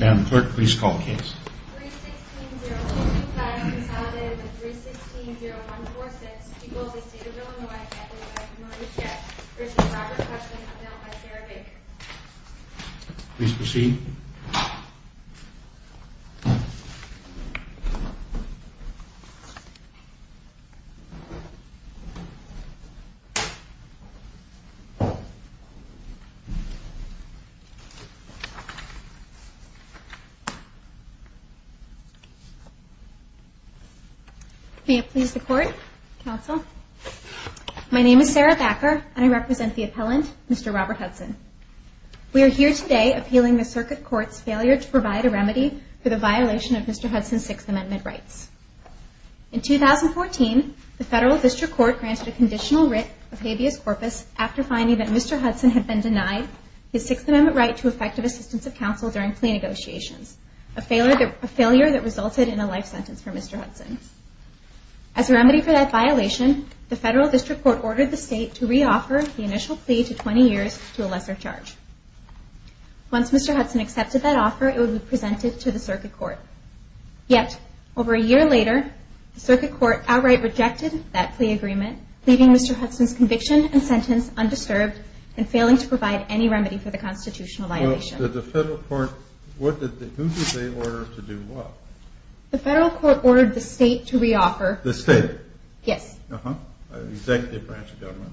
Madam Clerk, please call the case. 3-16-0155 consolidated with 3-16-0146 equals the State of Illinois Catholic Church of Mauritius v. Robert Hudson upheld by Sarah Baker. Please proceed. May it please the Court, Counsel. My name is Sarah Baker, and I represent the appellant, Mr. Robert Hudson. We are here today appealing the Circuit Court's failure to provide a remedy for the violation of Mr. Hudson's Sixth Amendment rights. In 2014, the Federal District Court granted a conditional writ of habeas corpus after finding that Mr. Hudson had been denied his Sixth Amendment right to effective assistance of counsel during plea negotiations, a failure that resulted in a life sentence for Mr. Hudson. As a remedy for that violation, the Federal District Court ordered the State to re-offer the initial plea to 20 years to a lesser charge. Once Mr. Hudson accepted that offer, it would be presented to the Circuit Court. Yet, over a year later, the Circuit Court outright rejected that plea agreement, leaving Mr. Hudson's conviction and sentence undisturbed and failing to provide any remedy for the constitutional violation. Who did the Federal Court order to do what? The Federal Court ordered the State to re-offer. The State? Yes. Executive branch of government,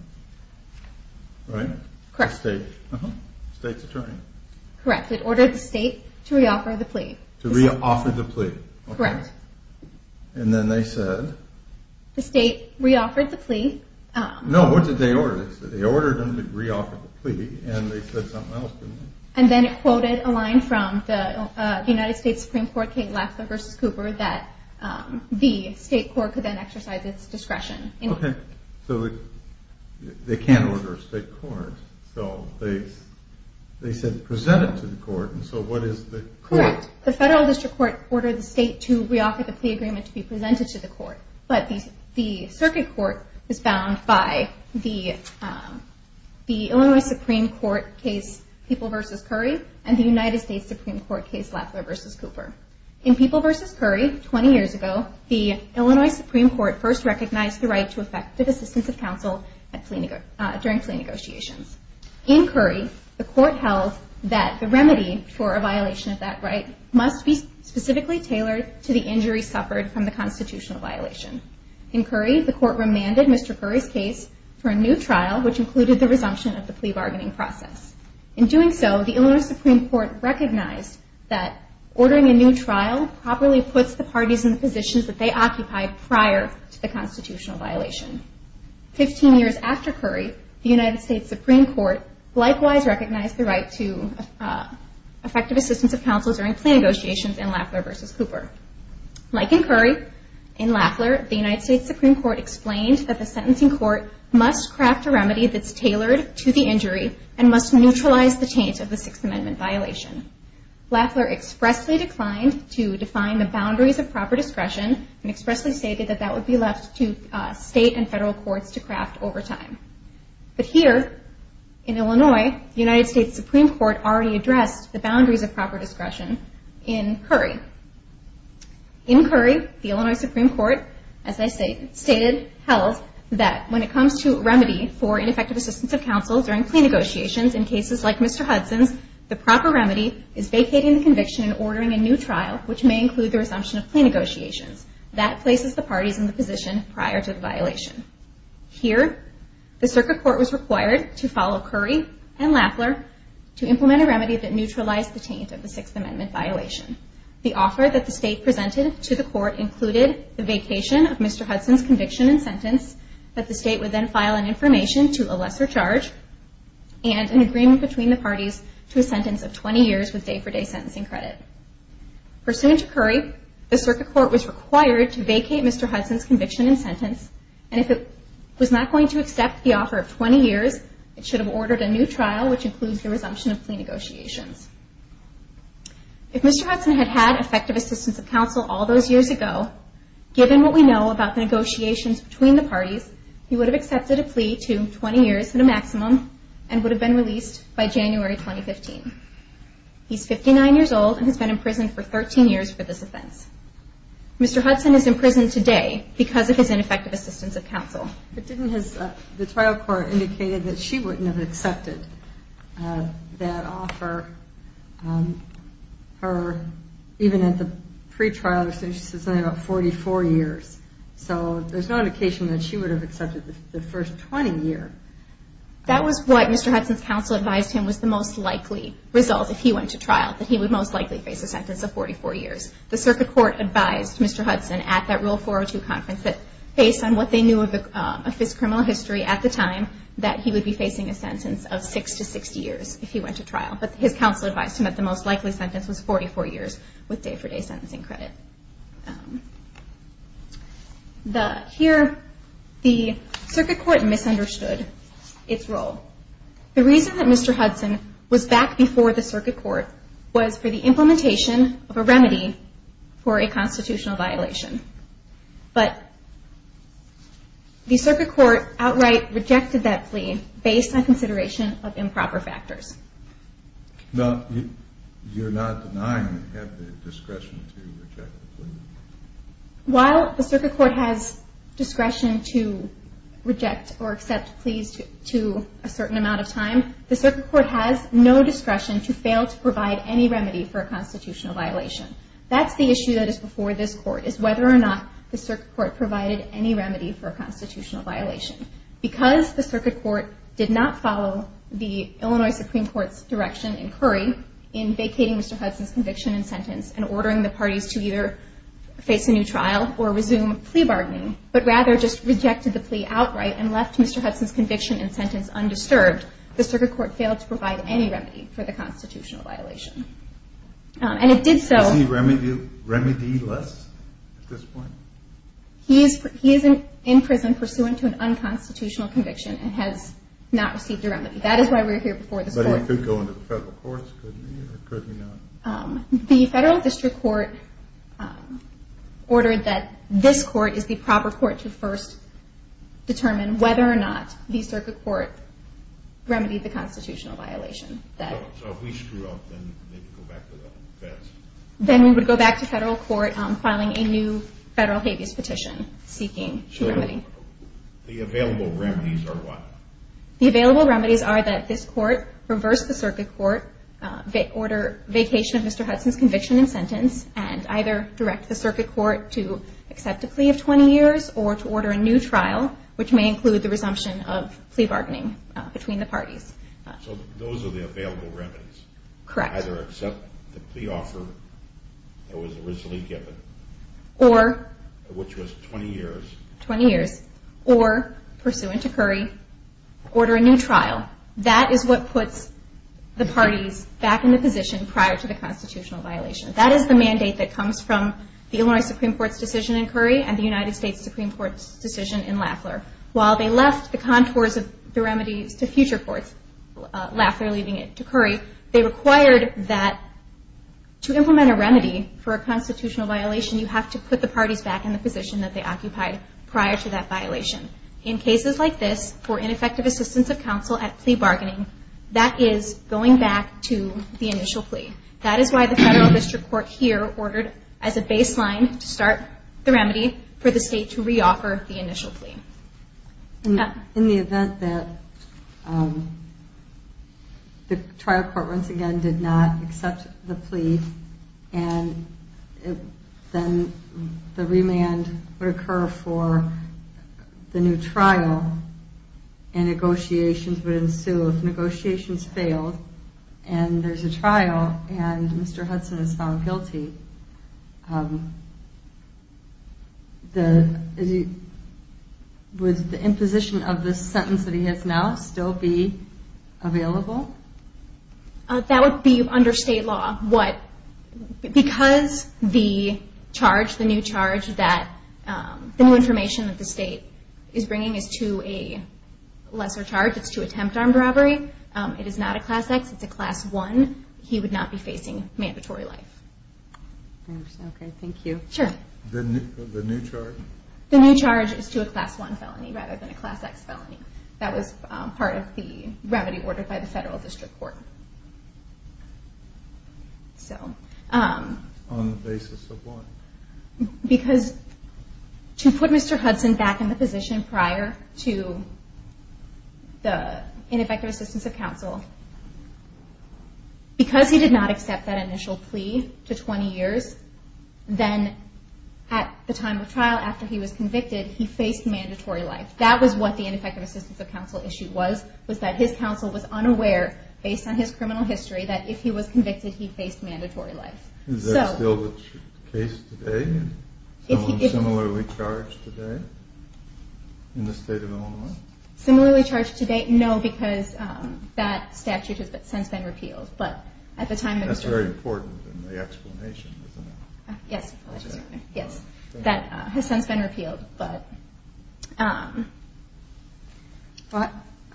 right? Correct. The State's attorney. Correct. It ordered the State to re-offer the plea. To re-offer the plea. Correct. And then they said? The State re-offered the plea. No, what did they order? They ordered them to re-offer the plea, and they said something else, didn't they? And then it quoted a line from the United States Supreme Court case, Lafler v. Cooper, that the State court could then exercise its discretion. Okay. So they can't order a State court. So they said present it to the court, and so what is the court? Correct. The Federal District Court ordered the State to re-offer the plea agreement to be presented to the court. But the circuit court is bound by the Illinois Supreme Court case, People v. Curry, and the United States Supreme Court case, Lafler v. Cooper. In People v. Curry, 20 years ago, the Illinois Supreme Court first recognized the right to effective assistance of counsel during plea negotiations. In Curry, the court held that the remedy for a violation of that right must be In Curry, the court remanded Mr. Curry's case for a new trial, which included the resumption of the plea bargaining process. In doing so, the Illinois Supreme Court recognized that ordering a new trial properly puts the parties in the positions that they occupied prior to the constitutional violation. Fifteen years after Curry, the United States Supreme Court likewise recognized the right to effective assistance of counsel during plea negotiations in Lafler v. Cooper. Like in Curry, in Lafler, the United States Supreme Court explained that the sentencing court must craft a remedy that's tailored to the injury and must neutralize the taint of the Sixth Amendment violation. Lafler expressly declined to define the boundaries of proper discretion and expressly stated that that would be left to State and Federal courts to craft over time. But here, in Illinois, the United States Supreme Court already addressed the In Curry, the Illinois Supreme Court, as I stated, held that when it comes to remedy for ineffective assistance of counsel during plea negotiations in cases like Mr. Hudson's, the proper remedy is vacating the conviction and ordering a new trial, which may include the resumption of plea negotiations. That places the parties in the position prior to the violation. Here, the circuit court was required to follow Curry and Lafler to implement a remedy that neutralized the taint of the Sixth Amendment violation. The offer that the State presented to the court included the vacation of Mr. Hudson's conviction and sentence that the State would then file an information to a lesser charge and an agreement between the parties to a sentence of 20 years with day-for-day sentencing credit. Pursuant to Curry, the circuit court was required to vacate Mr. Hudson's conviction and sentence, and if it was not going to accept the offer of 20 years, it should have ordered a new trial, which includes the resumption of plea negotiations. If Mr. Hudson had had effective assistance of counsel all those years ago, given what we know about negotiations between the parties, he would have accepted a plea to 20 years at a maximum and would have been released by January 2015. He's 59 years old and has been in prison for 13 years for this offense. Mr. Hudson is in prison today because of his ineffective assistance of counsel. The trial court indicated that she wouldn't have accepted that offer even at the pre-trial. She said something about 44 years. So there's no indication that she would have accepted the first 20 years. That was what Mr. Hudson's counsel advised him was the most likely result if he went to trial, that he would most likely face a sentence of 44 years. The circuit court advised Mr. Hudson at that Rule 402 conference that based on what they knew of his criminal history at the time, that he would be facing a sentence of six to 60 years if he went to trial. But his counsel advised him that the most likely sentence was 44 years with day-for-day sentencing credit. Here, the circuit court misunderstood its role. The reason that Mr. Hudson was back before the circuit court was for the implementation of a remedy for a constitutional violation. But the circuit court outright rejected that plea based on consideration of improper factors. Now, you're not denying that you have the discretion to reject the plea? While the circuit court has discretion to reject or accept pleas to a certain amount of time, the circuit court has no discretion to fail to provide any remedy for a constitutional violation. That's the issue that is before this court, is whether or not the circuit court provided any remedy for a constitutional violation. Because the circuit court did not follow the Illinois Supreme Court's direction in Curry in vacating Mr. Hudson's conviction and sentence and ordering the parties to either face a new trial or resume plea bargaining, but rather just rejected the plea outright and left Mr. Hudson's conviction and sentence undisturbed, the circuit court failed to provide any remedy for the constitutional violation. And it did so. Is he remedy-less at this point? He is in prison pursuant to an unconstitutional conviction and has not received a remedy. That is why we're here before this court. But he could go into the federal courts, couldn't he, or could he not? The federal district court ordered that this court is the proper court to first determine whether or not the circuit court remedied the constitutional violation. So if we screw up, then they can go back to the feds? Then we would go back to federal court filing a new federal habeas petition seeking a remedy. So the available remedies are what? The available remedies are that this court reverse the circuit court, order vacation of Mr. Hudson's conviction and sentence, and either direct the circuit court to accept a plea of 20 years or to order a new trial, which may include the resumption of plea bargaining between the parties. So those are the available remedies? Correct. Either accept the plea offer that was originally given, which was 20 years. 20 years. Or, pursuant to Curry, order a new trial. That is what puts the parties back in the position prior to the constitutional violation. That is the mandate that comes from the Illinois Supreme Court's decision in Curry and the United States Supreme Court's decision in Lafleur. While they left the contours of the remedies to future courts, Lafleur leaving it to Curry, they required that to implement a remedy for a constitutional violation, you have to put the parties back in the position that they occupied prior to that violation. In cases like this, for ineffective assistance of counsel at plea bargaining, that is going back to the initial plea. That is why the federal district court here ordered as a baseline to start the In the event that the trial court, once again, did not accept the plea and then the remand would occur for the new trial and negotiations would ensue. If negotiations failed and there is a trial and Mr. Hudson is found guilty, would the imposition of this sentence that he has now still be available? That would be under state law. Because the charge, the new charge, the new information that the state is bringing is to a lesser charge, it is to attempt armed robbery, it is not a class X, it is a class 1, he would not be facing mandatory life. Okay, thank you. Sure. The new charge? The new charge is to a class 1 felony rather than a class X felony. That was part of the remedy ordered by the federal district court. On the basis of what? Because to put Mr. Hudson back in the position prior to the ineffective assistance of counsel, because he did not accept that initial plea to 20 years, then at the time of trial after he was convicted, he faced mandatory life. That was what the ineffective assistance of counsel issue was, was that his counsel was unaware, based on his criminal history, that if he was convicted, he faced mandatory life. Is that still the case today? Someone similarly charged today in the state of Illinois? Similarly charged today? No, because that statute has since been repealed. That's very important in the explanation, isn't it? Yes, that has since been repealed.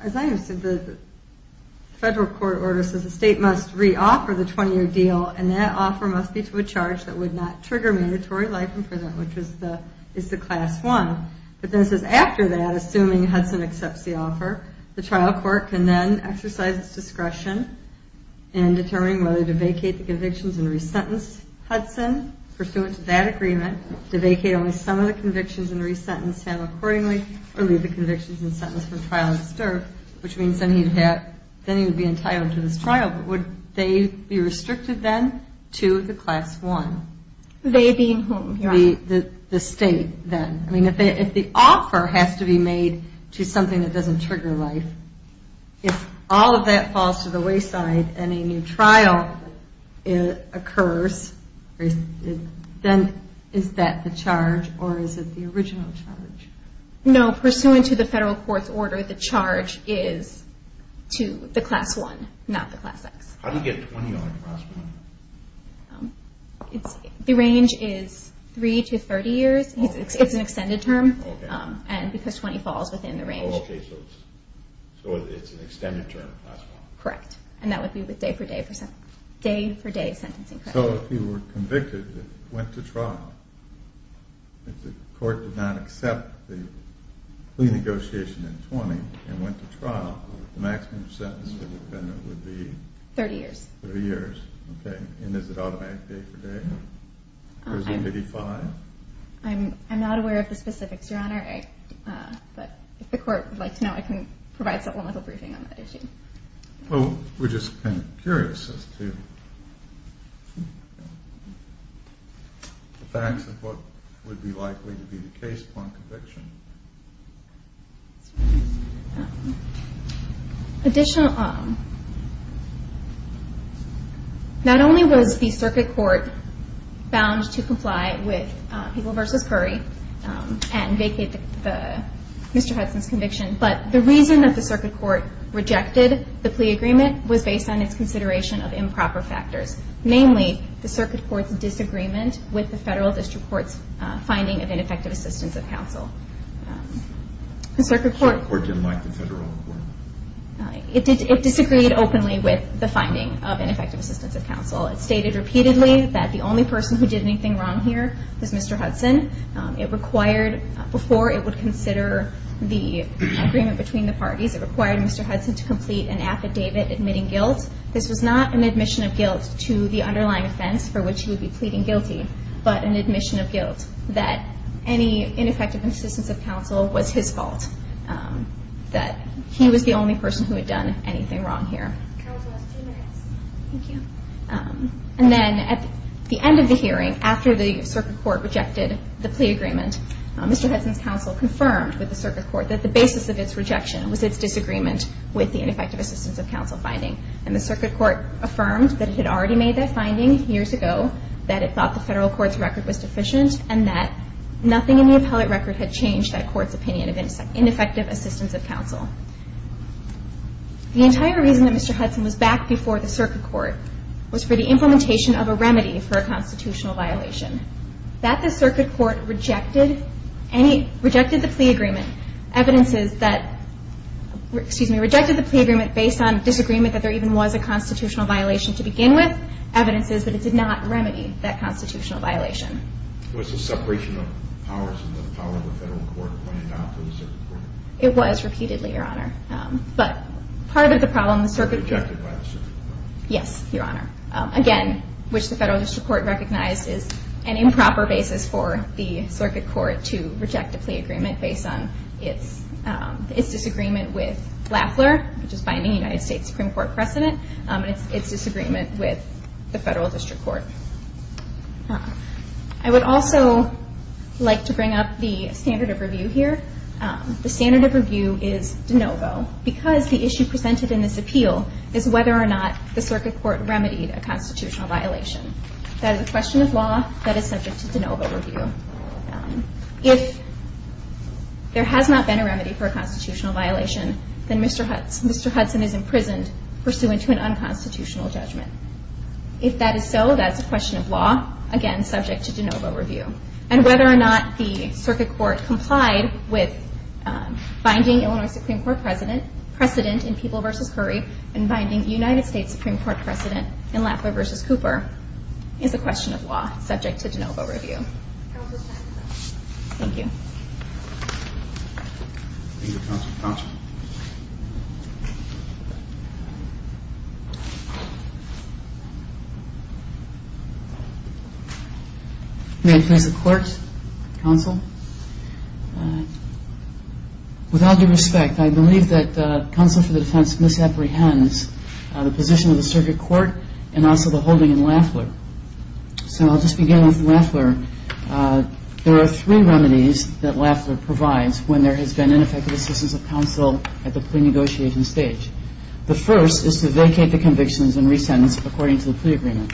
As I understood, the federal court order says the state must re-offer the 20-year deal and that offer must be to a charge that would not trigger mandatory life in prison, which is the class 1. But then it says after that, assuming Hudson accepts the offer, the trial court can then exercise its discretion in determining whether to vacate the convictions and resentence Hudson pursuant to that agreement, to vacate only some of the convictions and resentence him accordingly, or leave the convictions and sentence for trial and stir, which means then he would be entitled to this trial. But would they be restricted then to the class 1? They being whom? The state then. I mean, if the offer has to be made to something that doesn't trigger life, if all of that falls to the wayside and a new trial occurs, then is that the charge or is it the original charge? No, pursuant to the federal court's order, the charge is to the class 1, not the class X. How do you get 20 on a class 1? The range is 3 to 30 years. It's an extended term because 20 falls within the range. Oh, okay. So it's an extended term, class 1. Correct. And that would be with day-for-day sentencing. So if you were convicted and went to trial, if the court did not accept the plea negotiation in 20 and went to trial, the maximum sentence for defendant would be? 30 years. 30 years. Okay. And is it automatic day-for-day or is it 55? I'm not aware of the specifics, Your Honor. But if the court would like to know, I can provide supplemental briefing on that issue. Well, we're just kind of curious as to the facts of what would be likely to be the case upon conviction. Additional, not only was the circuit court bound to comply with People v. Curry and vacate Mr. Hudson's conviction, but the reason that the circuit court rejected the plea agreement was based on its consideration of improper factors, namely the circuit court's disagreement with the federal district court's finding of ineffective assistance of counsel. The circuit court didn't like the federal court? It disagreed openly with the finding of ineffective assistance of counsel. It stated repeatedly that the only person who did anything wrong here was Mr. Hudson. It required, before it would consider the agreement between the parties, it required Mr. Hudson to complete an affidavit admitting guilt. This was not an admission of guilt to the underlying offense for which he would be pleading guilty, but an admission of guilt that any ineffective assistance of counsel was his fault, that he was the only person who had done anything wrong here. And then at the end of the hearing, after the circuit court rejected the plea agreement, Mr. Hudson's counsel confirmed with the circuit court that the basis of its rejection was its disagreement with the ineffective assistance of counsel finding. And the circuit court affirmed that it had already made that finding years ago, that it thought the federal court's record was deficient, and that nothing in the appellate record had changed that court's opinion of ineffective assistance of counsel. The entire reason that Mr. Hudson was back before the circuit court was for the implementation of a remedy for a constitutional violation. That the circuit court rejected any, rejected the plea agreement, evidences that, excuse me, rejected the plea agreement based on disagreement that there even was a constitutional violation to begin with, evidences that it did not remedy that constitutional violation. Was the separation of powers in the power of the federal court pointed out to the circuit court? It was repeatedly, Your Honor. But part of the problem, the circuit court, Rejected by the circuit court. Yes, Your Honor. Again, which the federal district court recognized is an improper basis for the circuit court to reject the plea agreement based on its disagreement with Lafler, which is binding United States Supreme Court precedent, and its disagreement with the federal district court. I would also like to bring up the standard of review here. The standard of review is de novo. Because the issue presented in this appeal is whether or not the circuit court remedied a constitutional violation. That is a question of law that is subject to de novo review. If there has not been a remedy for a constitutional violation, then Mr. Hudson is imprisoned pursuant to an unconstitutional judgment. If that is so, that is a question of law, again, subject to de novo review. And whether or not the circuit court complied with binding Illinois Supreme Court precedent in People v. Curry, and binding United States Supreme Court precedent in Lafler v. Cooper, is a question of law, subject to de novo review. Thank you. Thank you, Counsel. Counsel. May I please have the court? Counsel. With all due respect, I believe that counsel for the defense misapprehends the position of the circuit court, and also the holding in Lafler. So I'll just begin with Lafler. There are three remedies that Lafler provides when there has been ineffective assistance of counsel at the pre-negotiation stage. The first is to vacate the convictions and resentence according to the plea agreement.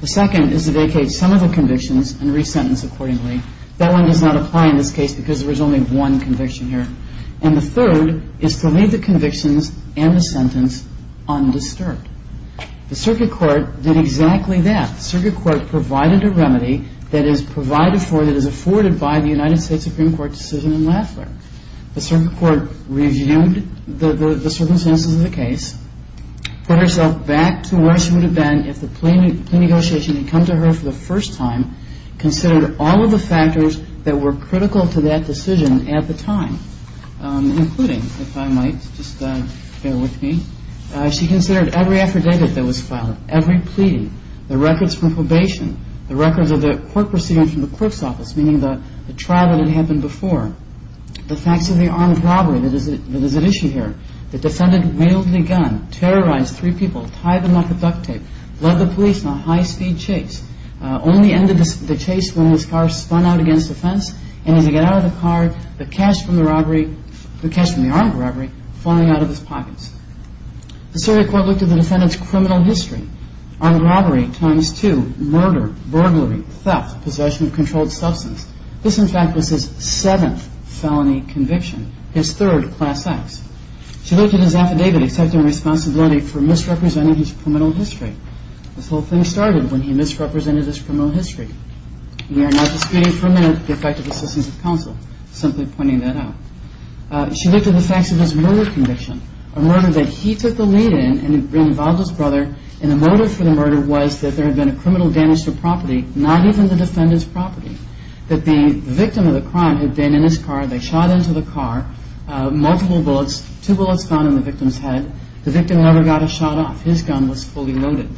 The second is to vacate some of the convictions and resentence accordingly. That one does not apply in this case because there is only one conviction here. And the third is to leave the convictions and the sentence undisturbed. The circuit court did exactly that. The circuit court provided a remedy that is provided for, that is afforded by the United States Supreme Court decision in Lafler. The circuit court reviewed the circumstances of the case, put herself back to where she would have been if the plea negotiation had come to her for the first time, considered all of the factors that were critical to that decision at the time, including, if I might, just bear with me, she considered every affidavit that was filed, every pleading, the records from probation, the records of the court proceedings from the clerk's office, meaning the trial that had happened before, the facts of the armed robbery that is at issue here. The defendant mailed the gun, terrorized three people, tied them up with duct tape, led the police in a high-speed chase, only ended the chase when his car spun out against the fence, and as he got out of the car, the cash from the robbery, the cash from the armed robbery falling out of his pockets. The circuit court looked at the defendant's criminal history. Armed robbery times two, murder, burglary, theft, possession of controlled substance. This, in fact, was his seventh felony conviction, his third class act. She looked at his affidavit accepting responsibility for misrepresenting his criminal history. This whole thing started when he misrepresented his criminal history. We are not disputing for a minute the effect of assistance of counsel, simply pointing that out. She looked at the facts of his murder conviction, a murder that he took the lead in and involved his brother, and the motive for the murder was that there had been a criminal damage to property, not even the defendant's property, that the victim of the crime had been in his car, they shot into the car, multiple bullets, two bullets found in the victim's head. The victim never got a shot off. His gun was fully loaded.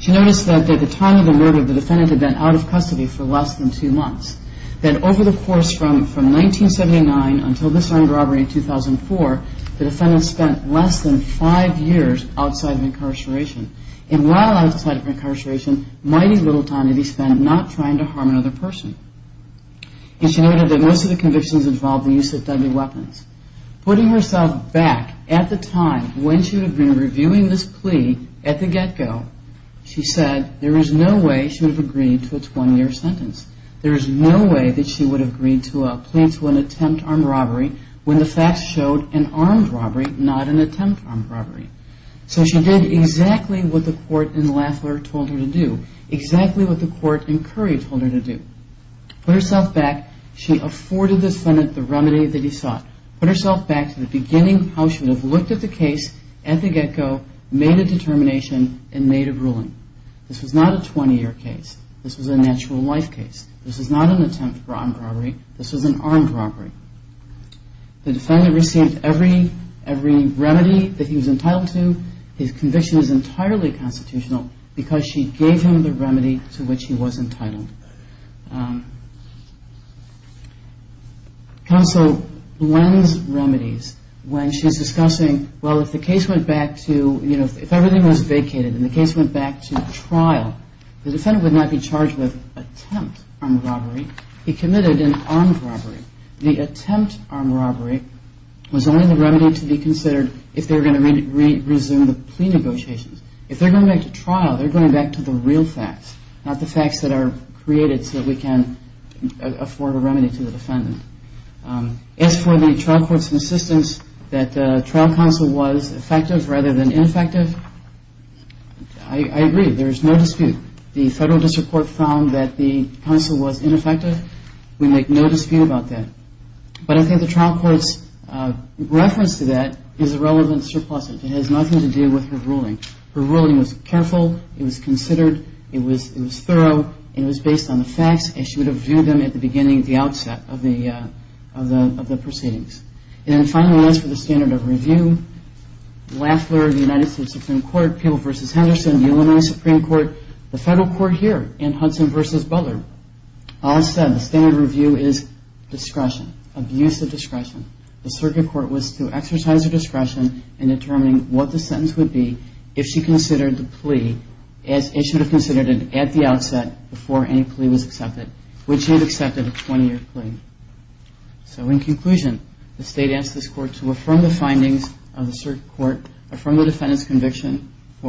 She noticed that at the time of the murder, the defendant had been out of custody for less than two months, that over the course from 1979 until this armed robbery in 2004, the defendant spent less than five years outside of incarceration. And while outside of incarceration, mighty little time did he spend not trying to harm another person. And she noted that most of the convictions involved the use of deadly weapons. Putting herself back at the time when she would have been reviewing this plea at the get-go, she said, there is no way she would have agreed to a 20-year sentence. There is no way that she would have agreed to a plea to an attempt on robbery when the facts showed an armed robbery, not an attempt on robbery. So she did exactly what the court in Lafleur told her to do, exactly what the court in Curry told her to do. Put herself back. She afforded the defendant the remedy that he sought. Put herself back to the beginning, how she would have looked at the case at the get-go, made a determination, and made a ruling. This was not a 20-year case. This was a natural life case. This was not an attempt on robbery. This was an armed robbery. The defendant received every remedy that he was entitled to. His conviction is entirely constitutional because she gave him the remedy to which he was entitled. Counsel blends remedies when she's discussing, well, if the case went back to, you know, if everything was vacated and the case went back to trial, the defendant would not be charged with attempt on robbery. He committed an armed robbery. The attempt on robbery was only the remedy to be considered if they were going to resume the plea negotiations. If they're going back to trial, they're going back to the real facts, not the facts that are created so that we can afford a remedy to the defendant. As for the trial court's insistence that the trial counsel was effective rather than ineffective, I agree. There is no dispute. The federal district court found that the counsel was ineffective. We make no dispute about that. But I think the trial court's reference to that is a relevant surplus. It has nothing to do with her ruling. Her ruling was careful. It was considered. It was thorough. It was based on the facts, and she would have viewed them at the beginning, the outset of the proceedings. And then finally, as for the standard of review, Lafler, the United States Supreme Court, Peale v. Henderson, Illinois Supreme Court, the federal court here, and Hudson v. Butler, all said the standard of review is discretion, abusive discretion. The circuit court was to exercise her discretion in determining what the sentence would be if she considered the plea, as it should have considered it at the outset before any plea was accepted, which she had accepted a 20-year plea. For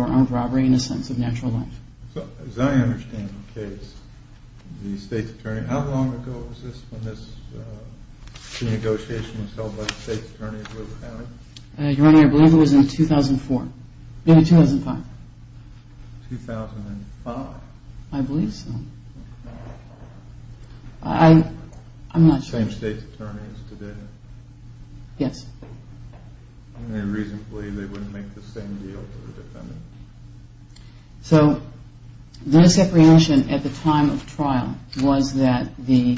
armed robbery and a sentence of natural life. So, as I understand the case, the state's attorney, how long ago was this when this negotiation was held by the state's attorney? Your Honor, I believe it was in 2004. No, 2005. 2005? I believe so. I'm not sure. Same state's attorney as today? Yes. And they reasonably, they wouldn't make the same deal for the defendant. So, this apprehension at the time of trial was that the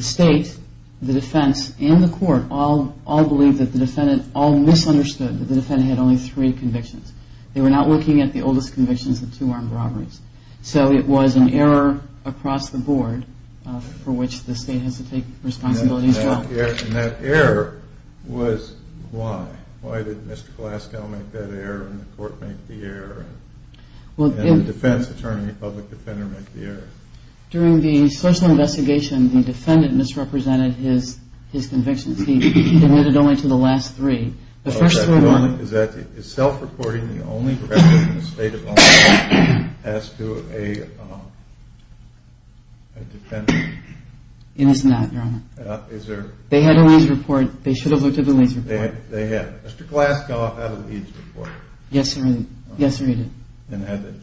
state, the defense, and the court all believed that the defendant, all misunderstood that the defendant had only three convictions. They were not looking at the oldest convictions of two armed robberies. So, it was an error across the board for which the state has to take responsibility as well. And that error was why? Why did Mr. Glasgow make that error and the court make the error and the defense attorney, public defender, make the error? During the social investigation, the defendant misrepresented his convictions. He admitted only to the last three. The first three were not. Is self-reporting the only record in the state of Ohio as to a defendant? It is not, Your Honor. Is there? They had a laser report. They should have looked at the laser report. They had. Mr. Glasgow had a laser report. Yes, Your Honor. Yes, Your Honor, he did. And had the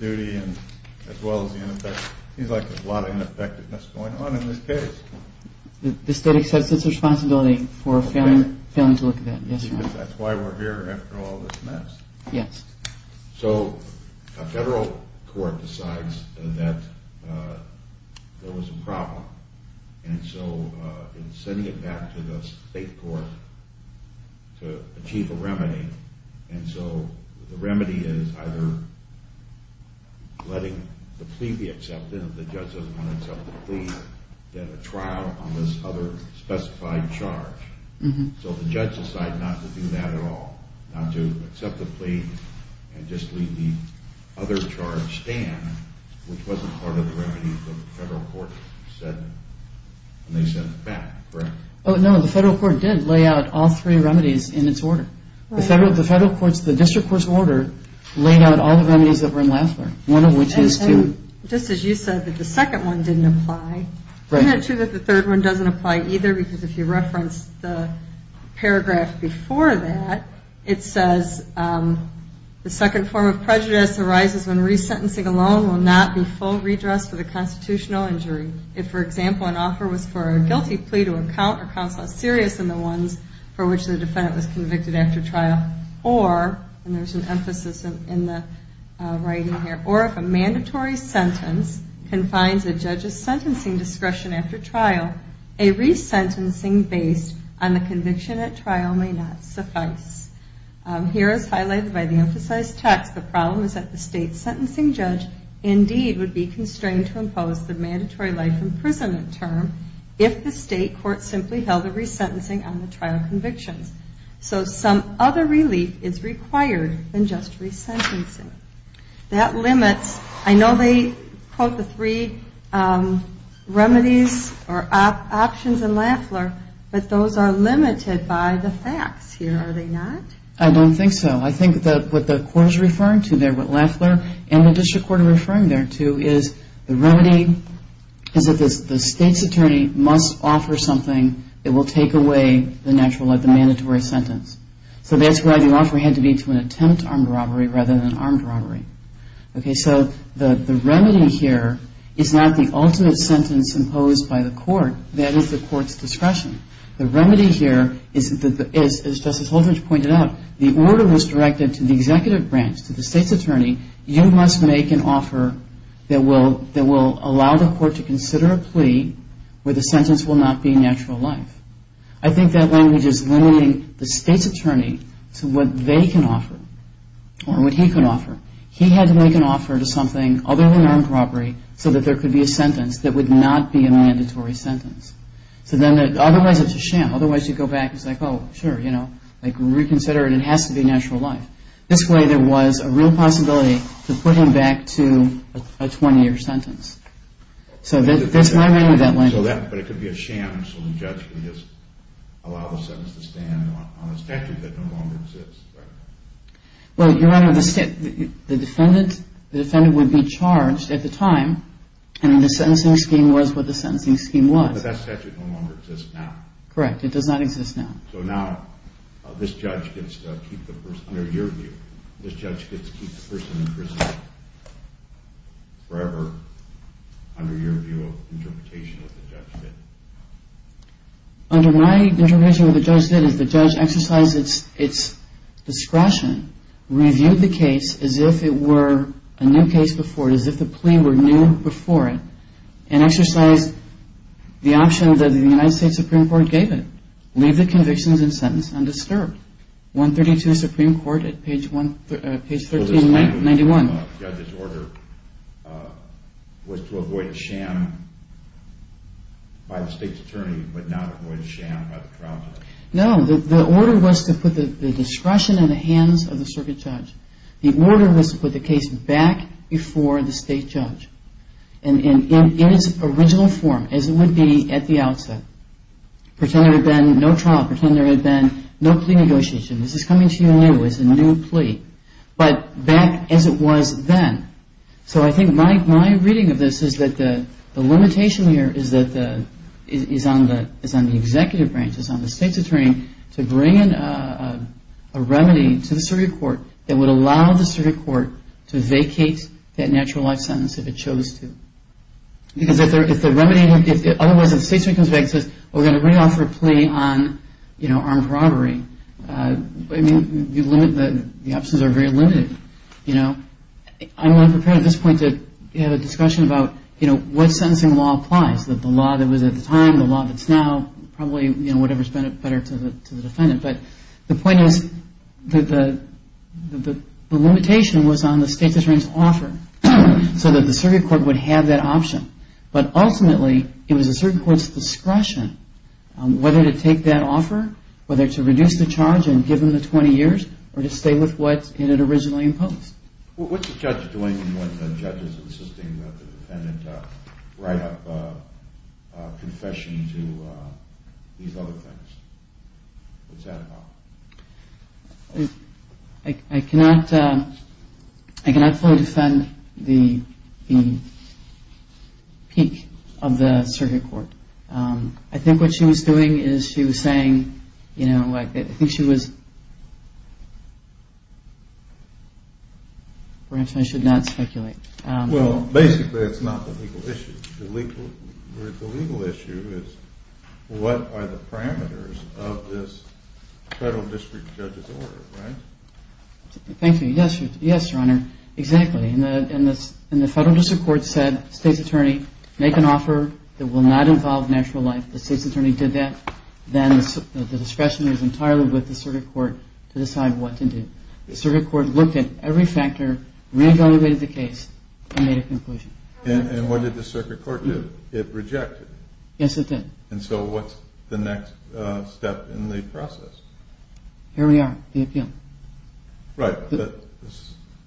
duty as well as the ineffectiveness. It seems like there's a lot of ineffectiveness going on in this case. The state accepts its responsibility for failing to look at that. Yes, Your Honor. That's why we're here after all this mess. Yes. So a federal court decides that there was a problem, and so in sending it back to the state court to achieve a remedy, and so the remedy is either letting the plea be accepted, if the judge doesn't want to accept the plea, then a trial on this other specified charge. So the judge decides not to do that at all, not to accept the plea and just leave the other charge stand, which wasn't part of the remedy the federal court said when they sent it back, correct? Oh, no, the federal court did lay out all three remedies in its order. The federal court's, the district court's order laid out all the remedies that were in Lafler, one of which is to. And just as you said that the second one didn't apply, isn't it true that the third one doesn't apply either? Because if you reference the paragraph before that, it says, the second form of prejudice arises when resentencing alone will not be full redress for the constitutional injury. If, for example, an offer was for a guilty plea to a count or counsel less serious than the ones for which the defendant was convicted after trial, or, and there's an emphasis in the writing here, or if a mandatory sentence confines a judge's sentencing discretion after trial, a resentencing based on the conviction at trial may not suffice. Here is highlighted by the emphasized text. The problem is that the state sentencing judge indeed would be constrained to impose the mandatory life imprisonment term if the state court simply held a resentencing on the trial convictions. So some other relief is required than just resentencing. That limits, I know they quote the three remedies or options in Lafler, but those are limited by the facts here, are they not? I don't think so. I think that what the court is referring to there, what Lafler and the district court are referring there to is the remedy is that the state's attorney must offer something that will take away the natural, like the mandatory sentence. So that's why the offer had to be to an attempt armed robbery rather than an armed robbery. Okay, so the remedy here is not the ultimate sentence imposed by the court. That is the court's discretion. The remedy here is, as Justice Holdren pointed out, the order was directed to the executive branch, to the state's attorney, you must make an offer that will allow the court to consider a plea where the sentence will not be a natural life. I think that language is limiting the state's attorney to what they can offer or what he can offer. He had to make an offer to something other than armed robbery so that there could be a sentence that would not be a mandatory sentence. So then otherwise it's a sham. Otherwise you go back and say, oh, sure, you know, like reconsider it. It has to be a natural life. This way there was a real possibility to put him back to a 20-year sentence. So that's my memory of that language. But it could be a sham so the judge can just allow the sentence to stand on a statute that no longer exists, right? Well, Your Honor, the defendant would be charged at the time, and the sentencing scheme was what the sentencing scheme was. But that statute no longer exists now. Correct. It does not exist now. So now this judge gets to keep the person under your view. This judge gets to keep the person in prison forever under your view of interpretation of the judgment. Under my interpretation of what the judge did is the judge exercised its discretion, reviewed the case as if it were a new case before it, as if the plea were new before it, and exercised the option that the United States Supreme Court gave it, leave the convictions and sentence undisturbed. 132 Supreme Court at page 1391. The judge's order was to avoid sham by the state's attorney but not avoid sham by the trial judge. No, the order was to put the discretion in the hands of the circuit judge. The order was to put the case back before the state judge in its original form as it would be at the outset. Pretend there had been no trial. Pretend there had been no plea negotiation. This is coming to you new. It's a new plea. But back as it was then. So I think my reading of this is that the limitation here is on the executive branch, is on the state's attorney, to bring in a remedy to the circuit court that would allow the circuit court to vacate that natural life sentence if it chose to. Because if the remedy, if otherwise the state's attorney comes back and says, well, we're going to re-offer a plea on armed robbery, I mean, the options are very limited, you know. I'm not prepared at this point to have a discussion about, you know, what sentencing law applies, that the law that was at the time, the law that's now, probably, you know, whatever's better to the defendant. But the point is that the limitation was on the state's attorney's offer so that the circuit court would have that option. But ultimately it was the circuit court's discretion whether to take that case to charge and give them the 20 years or to stay with what it originally imposed. What's the judge doing when the judge is insisting that the defendant write up a confession to these other things? What's that about? I cannot fully defend the peak of the circuit court. I think what she was doing is she was saying, you know, I think she was, perhaps I should not speculate. Well, basically it's not the legal issue. The legal issue is what are the parameters of this federal district judge's order, right? Thank you. Yes, Your Honor. Exactly. And the federal district court said, state's attorney, make an offer that will not involve natural life. The state's attorney did that. Then the discretion is entirely with the circuit court to decide what to do. The circuit court looked at every factor, re-evaluated the case, and made a conclusion. And what did the circuit court do? It rejected. Yes, it did. And so what's the next step in the process? Here we are, the appeal. Right.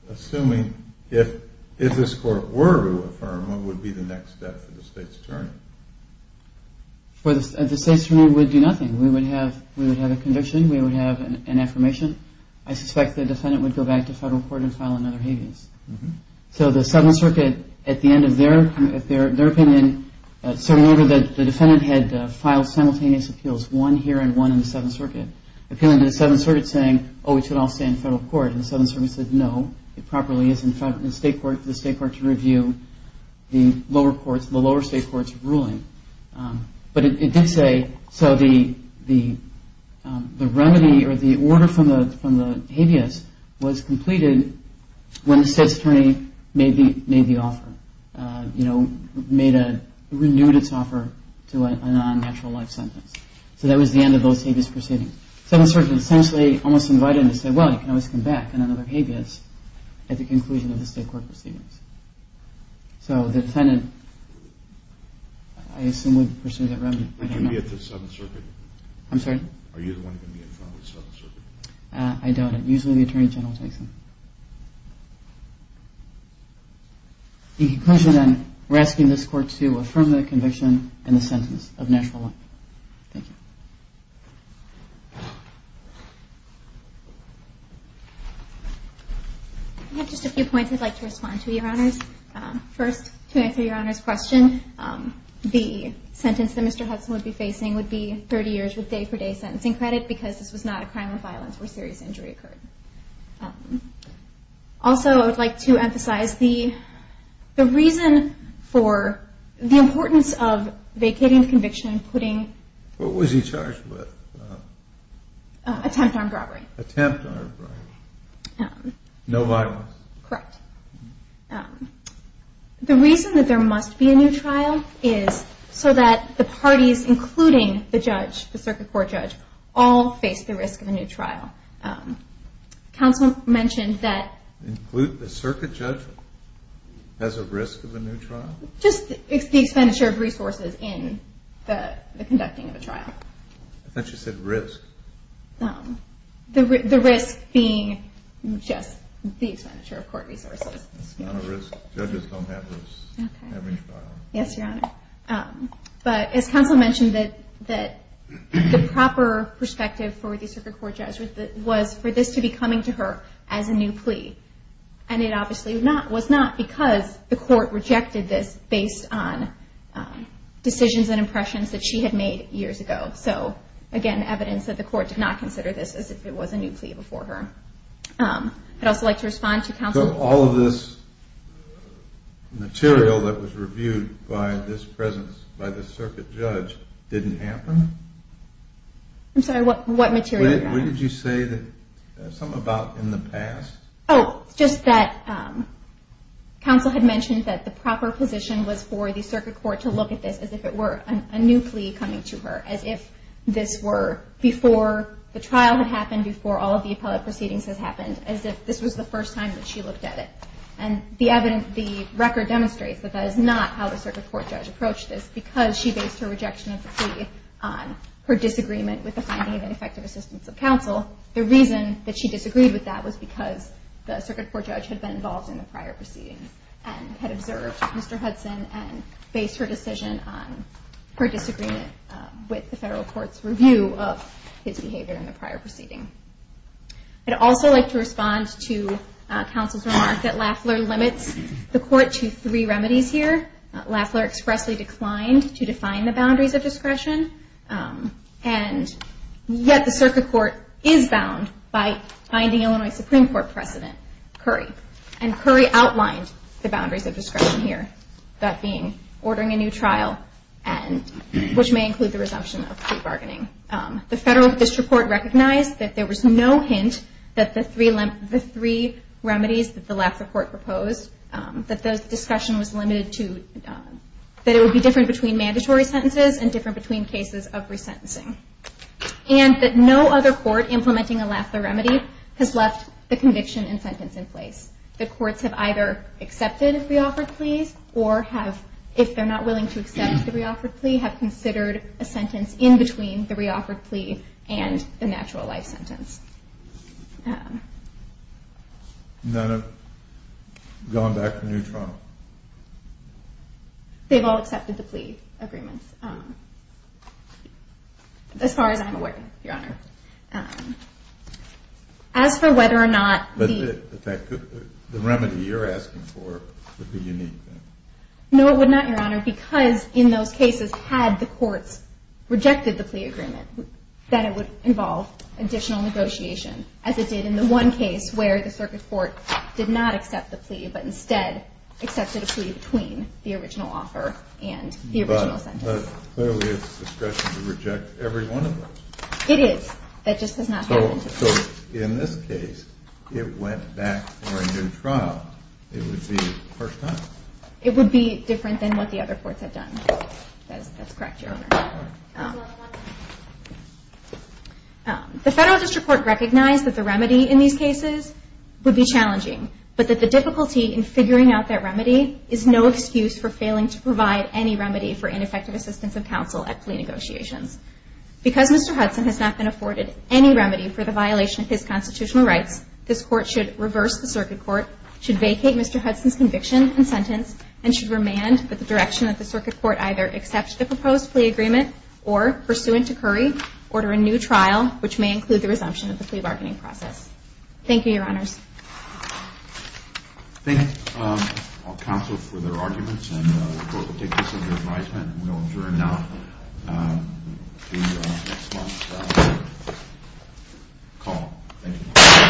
Assuming if this court were to affirm, what would be the next step for the state's attorney? The state's attorney would do nothing. We would have a conviction. We would have an affirmation. I suspect the defendant would go back to federal court and file another habeas. So the Seventh Circuit, at the end of their opinion, certain order that the defendant had filed simultaneous appeals, one here and one in the Seventh Circuit, appealing to the Seventh Circuit saying, oh, this should all stay in federal court. And the Seventh Circuit said, no, it properly is in state court, for the state court to review the lower state court's ruling. But it did say, so the remedy or the order from the habeas was completed when the state's attorney made the offer, renewed its offer to a non-natural life sentence. So that was the end of those habeas proceedings. The Seventh Circuit essentially almost invited them to say, well, you can always come back on another habeas at the conclusion of the state court proceedings. So the defendant, I assume, would pursue that remedy. I don't know. Would you be at the Seventh Circuit? I'm sorry? Are you the one going to be in front of the Seventh Circuit? I don't. Usually the attorney general takes them. The conclusion then, we're asking this court to affirm the conviction and the sentence of natural life. Thank you. I have just a few points I'd like to respond to, Your Honors. First, to answer Your Honor's question, the sentence that Mr. Hudson would be facing would be 30 years with day-for-day sentencing credit because this was not a crime of violence where serious injury occurred. Also, I would like to emphasize the reason for the importance of vacating the conviction and putting the defendant on trial. What is he charged with? Attempted armed robbery. Attempted armed robbery. No violence. Correct. The reason that there must be a new trial is so that the parties, including the judge, the circuit court judge, all face the risk of a new trial. Counsel mentioned that the circuit judge has a risk of a new trial? Just the expenditure of resources in the conducting of a trial. I thought you said risk. The risk being just the expenditure of court resources. It's not a risk. Judges don't have risks in every trial. Yes, Your Honor. But as counsel mentioned, the proper perspective for the circuit court judge was for this to be coming to her as a new plea. And it obviously was not because the court rejected this based on decisions and impressions that she had made years ago. So, again, evidence that the court did not consider this as if it was a new plea before her. I'd also like to respond to counsel. So all of this material that was reviewed by this presence, by this circuit judge, didn't happen? I'm sorry, what material, Your Honor? What did you say something about in the past? Oh, just that counsel had mentioned that the proper position was for the circuit court to look at this as if it were a new plea coming to her, as if this were before the trial had happened, before all of the appellate proceedings had happened, as if this was the first time that she looked at it. And the record demonstrates that that is not how the circuit court judge approached this because she based her rejection of the plea on her decisions of counsel. The reason that she disagreed with that was because the circuit court judge had been involved in the prior proceedings and had observed Mr. Hudson and based her decision on her disagreement with the federal court's review of his behavior in the prior proceeding. I'd also like to respond to counsel's remark that Lafler limits the court to three remedies here. Lafler expressly declined to define the boundaries of discretion, and yet the circuit court is bound by finding Illinois Supreme Court President Curry. And Curry outlined the boundaries of discretion here, that being ordering a new trial, which may include the resumption of plea bargaining. The federal district court recognized that there was no hint that the three remedies that the Lafler court proposed, that the discussion was limited to that it would be different between cases of resentencing. And that no other court implementing a Lafler remedy has left the conviction and sentence in place. The courts have either accepted reoffered pleas or have, if they're not willing to accept the reoffered plea, have considered a sentence in between the reoffered plea and the natural life sentence. None have gone back for a new trial. They've all accepted the plea agreement, as far as I'm aware, Your Honor. As for whether or not the remedy you're asking for would be unique. No, it would not, Your Honor, because in those cases had the courts rejected the plea agreement, then it would involve additional negotiation, as it did in the one case where the circuit court did not accept the plea, but instead accepted a plea between the original offer and the original sentence. But clearly it's discretion to reject every one of those. It is. That just does not happen. So in this case, it went back for a new trial. It would be the first time. It would be different than what the other courts have done. That's correct, Your Honor. The federal district court recognized that the remedy in these cases would be unique. And that's why it's important to note that the circuit court has not been able to provide any remedy for ineffective assistance of counsel at plea negotiations. Because Mr. Hudson has not been afforded any remedy for the violation of his constitutional rights, this Court should reverse the circuit court, should vacate Mr. Hudson's conviction and sentence, and should remand with the direction that the circuit court either accept the proposed plea agreement or, pursuant to Curry, order a new trial, which may include the resumption of the plea bargaining process. Thank you, Your Honors. Thank counsel for their arguments. And the Court will take this under advisement. And we will adjourn now to the next month's call. Thank you.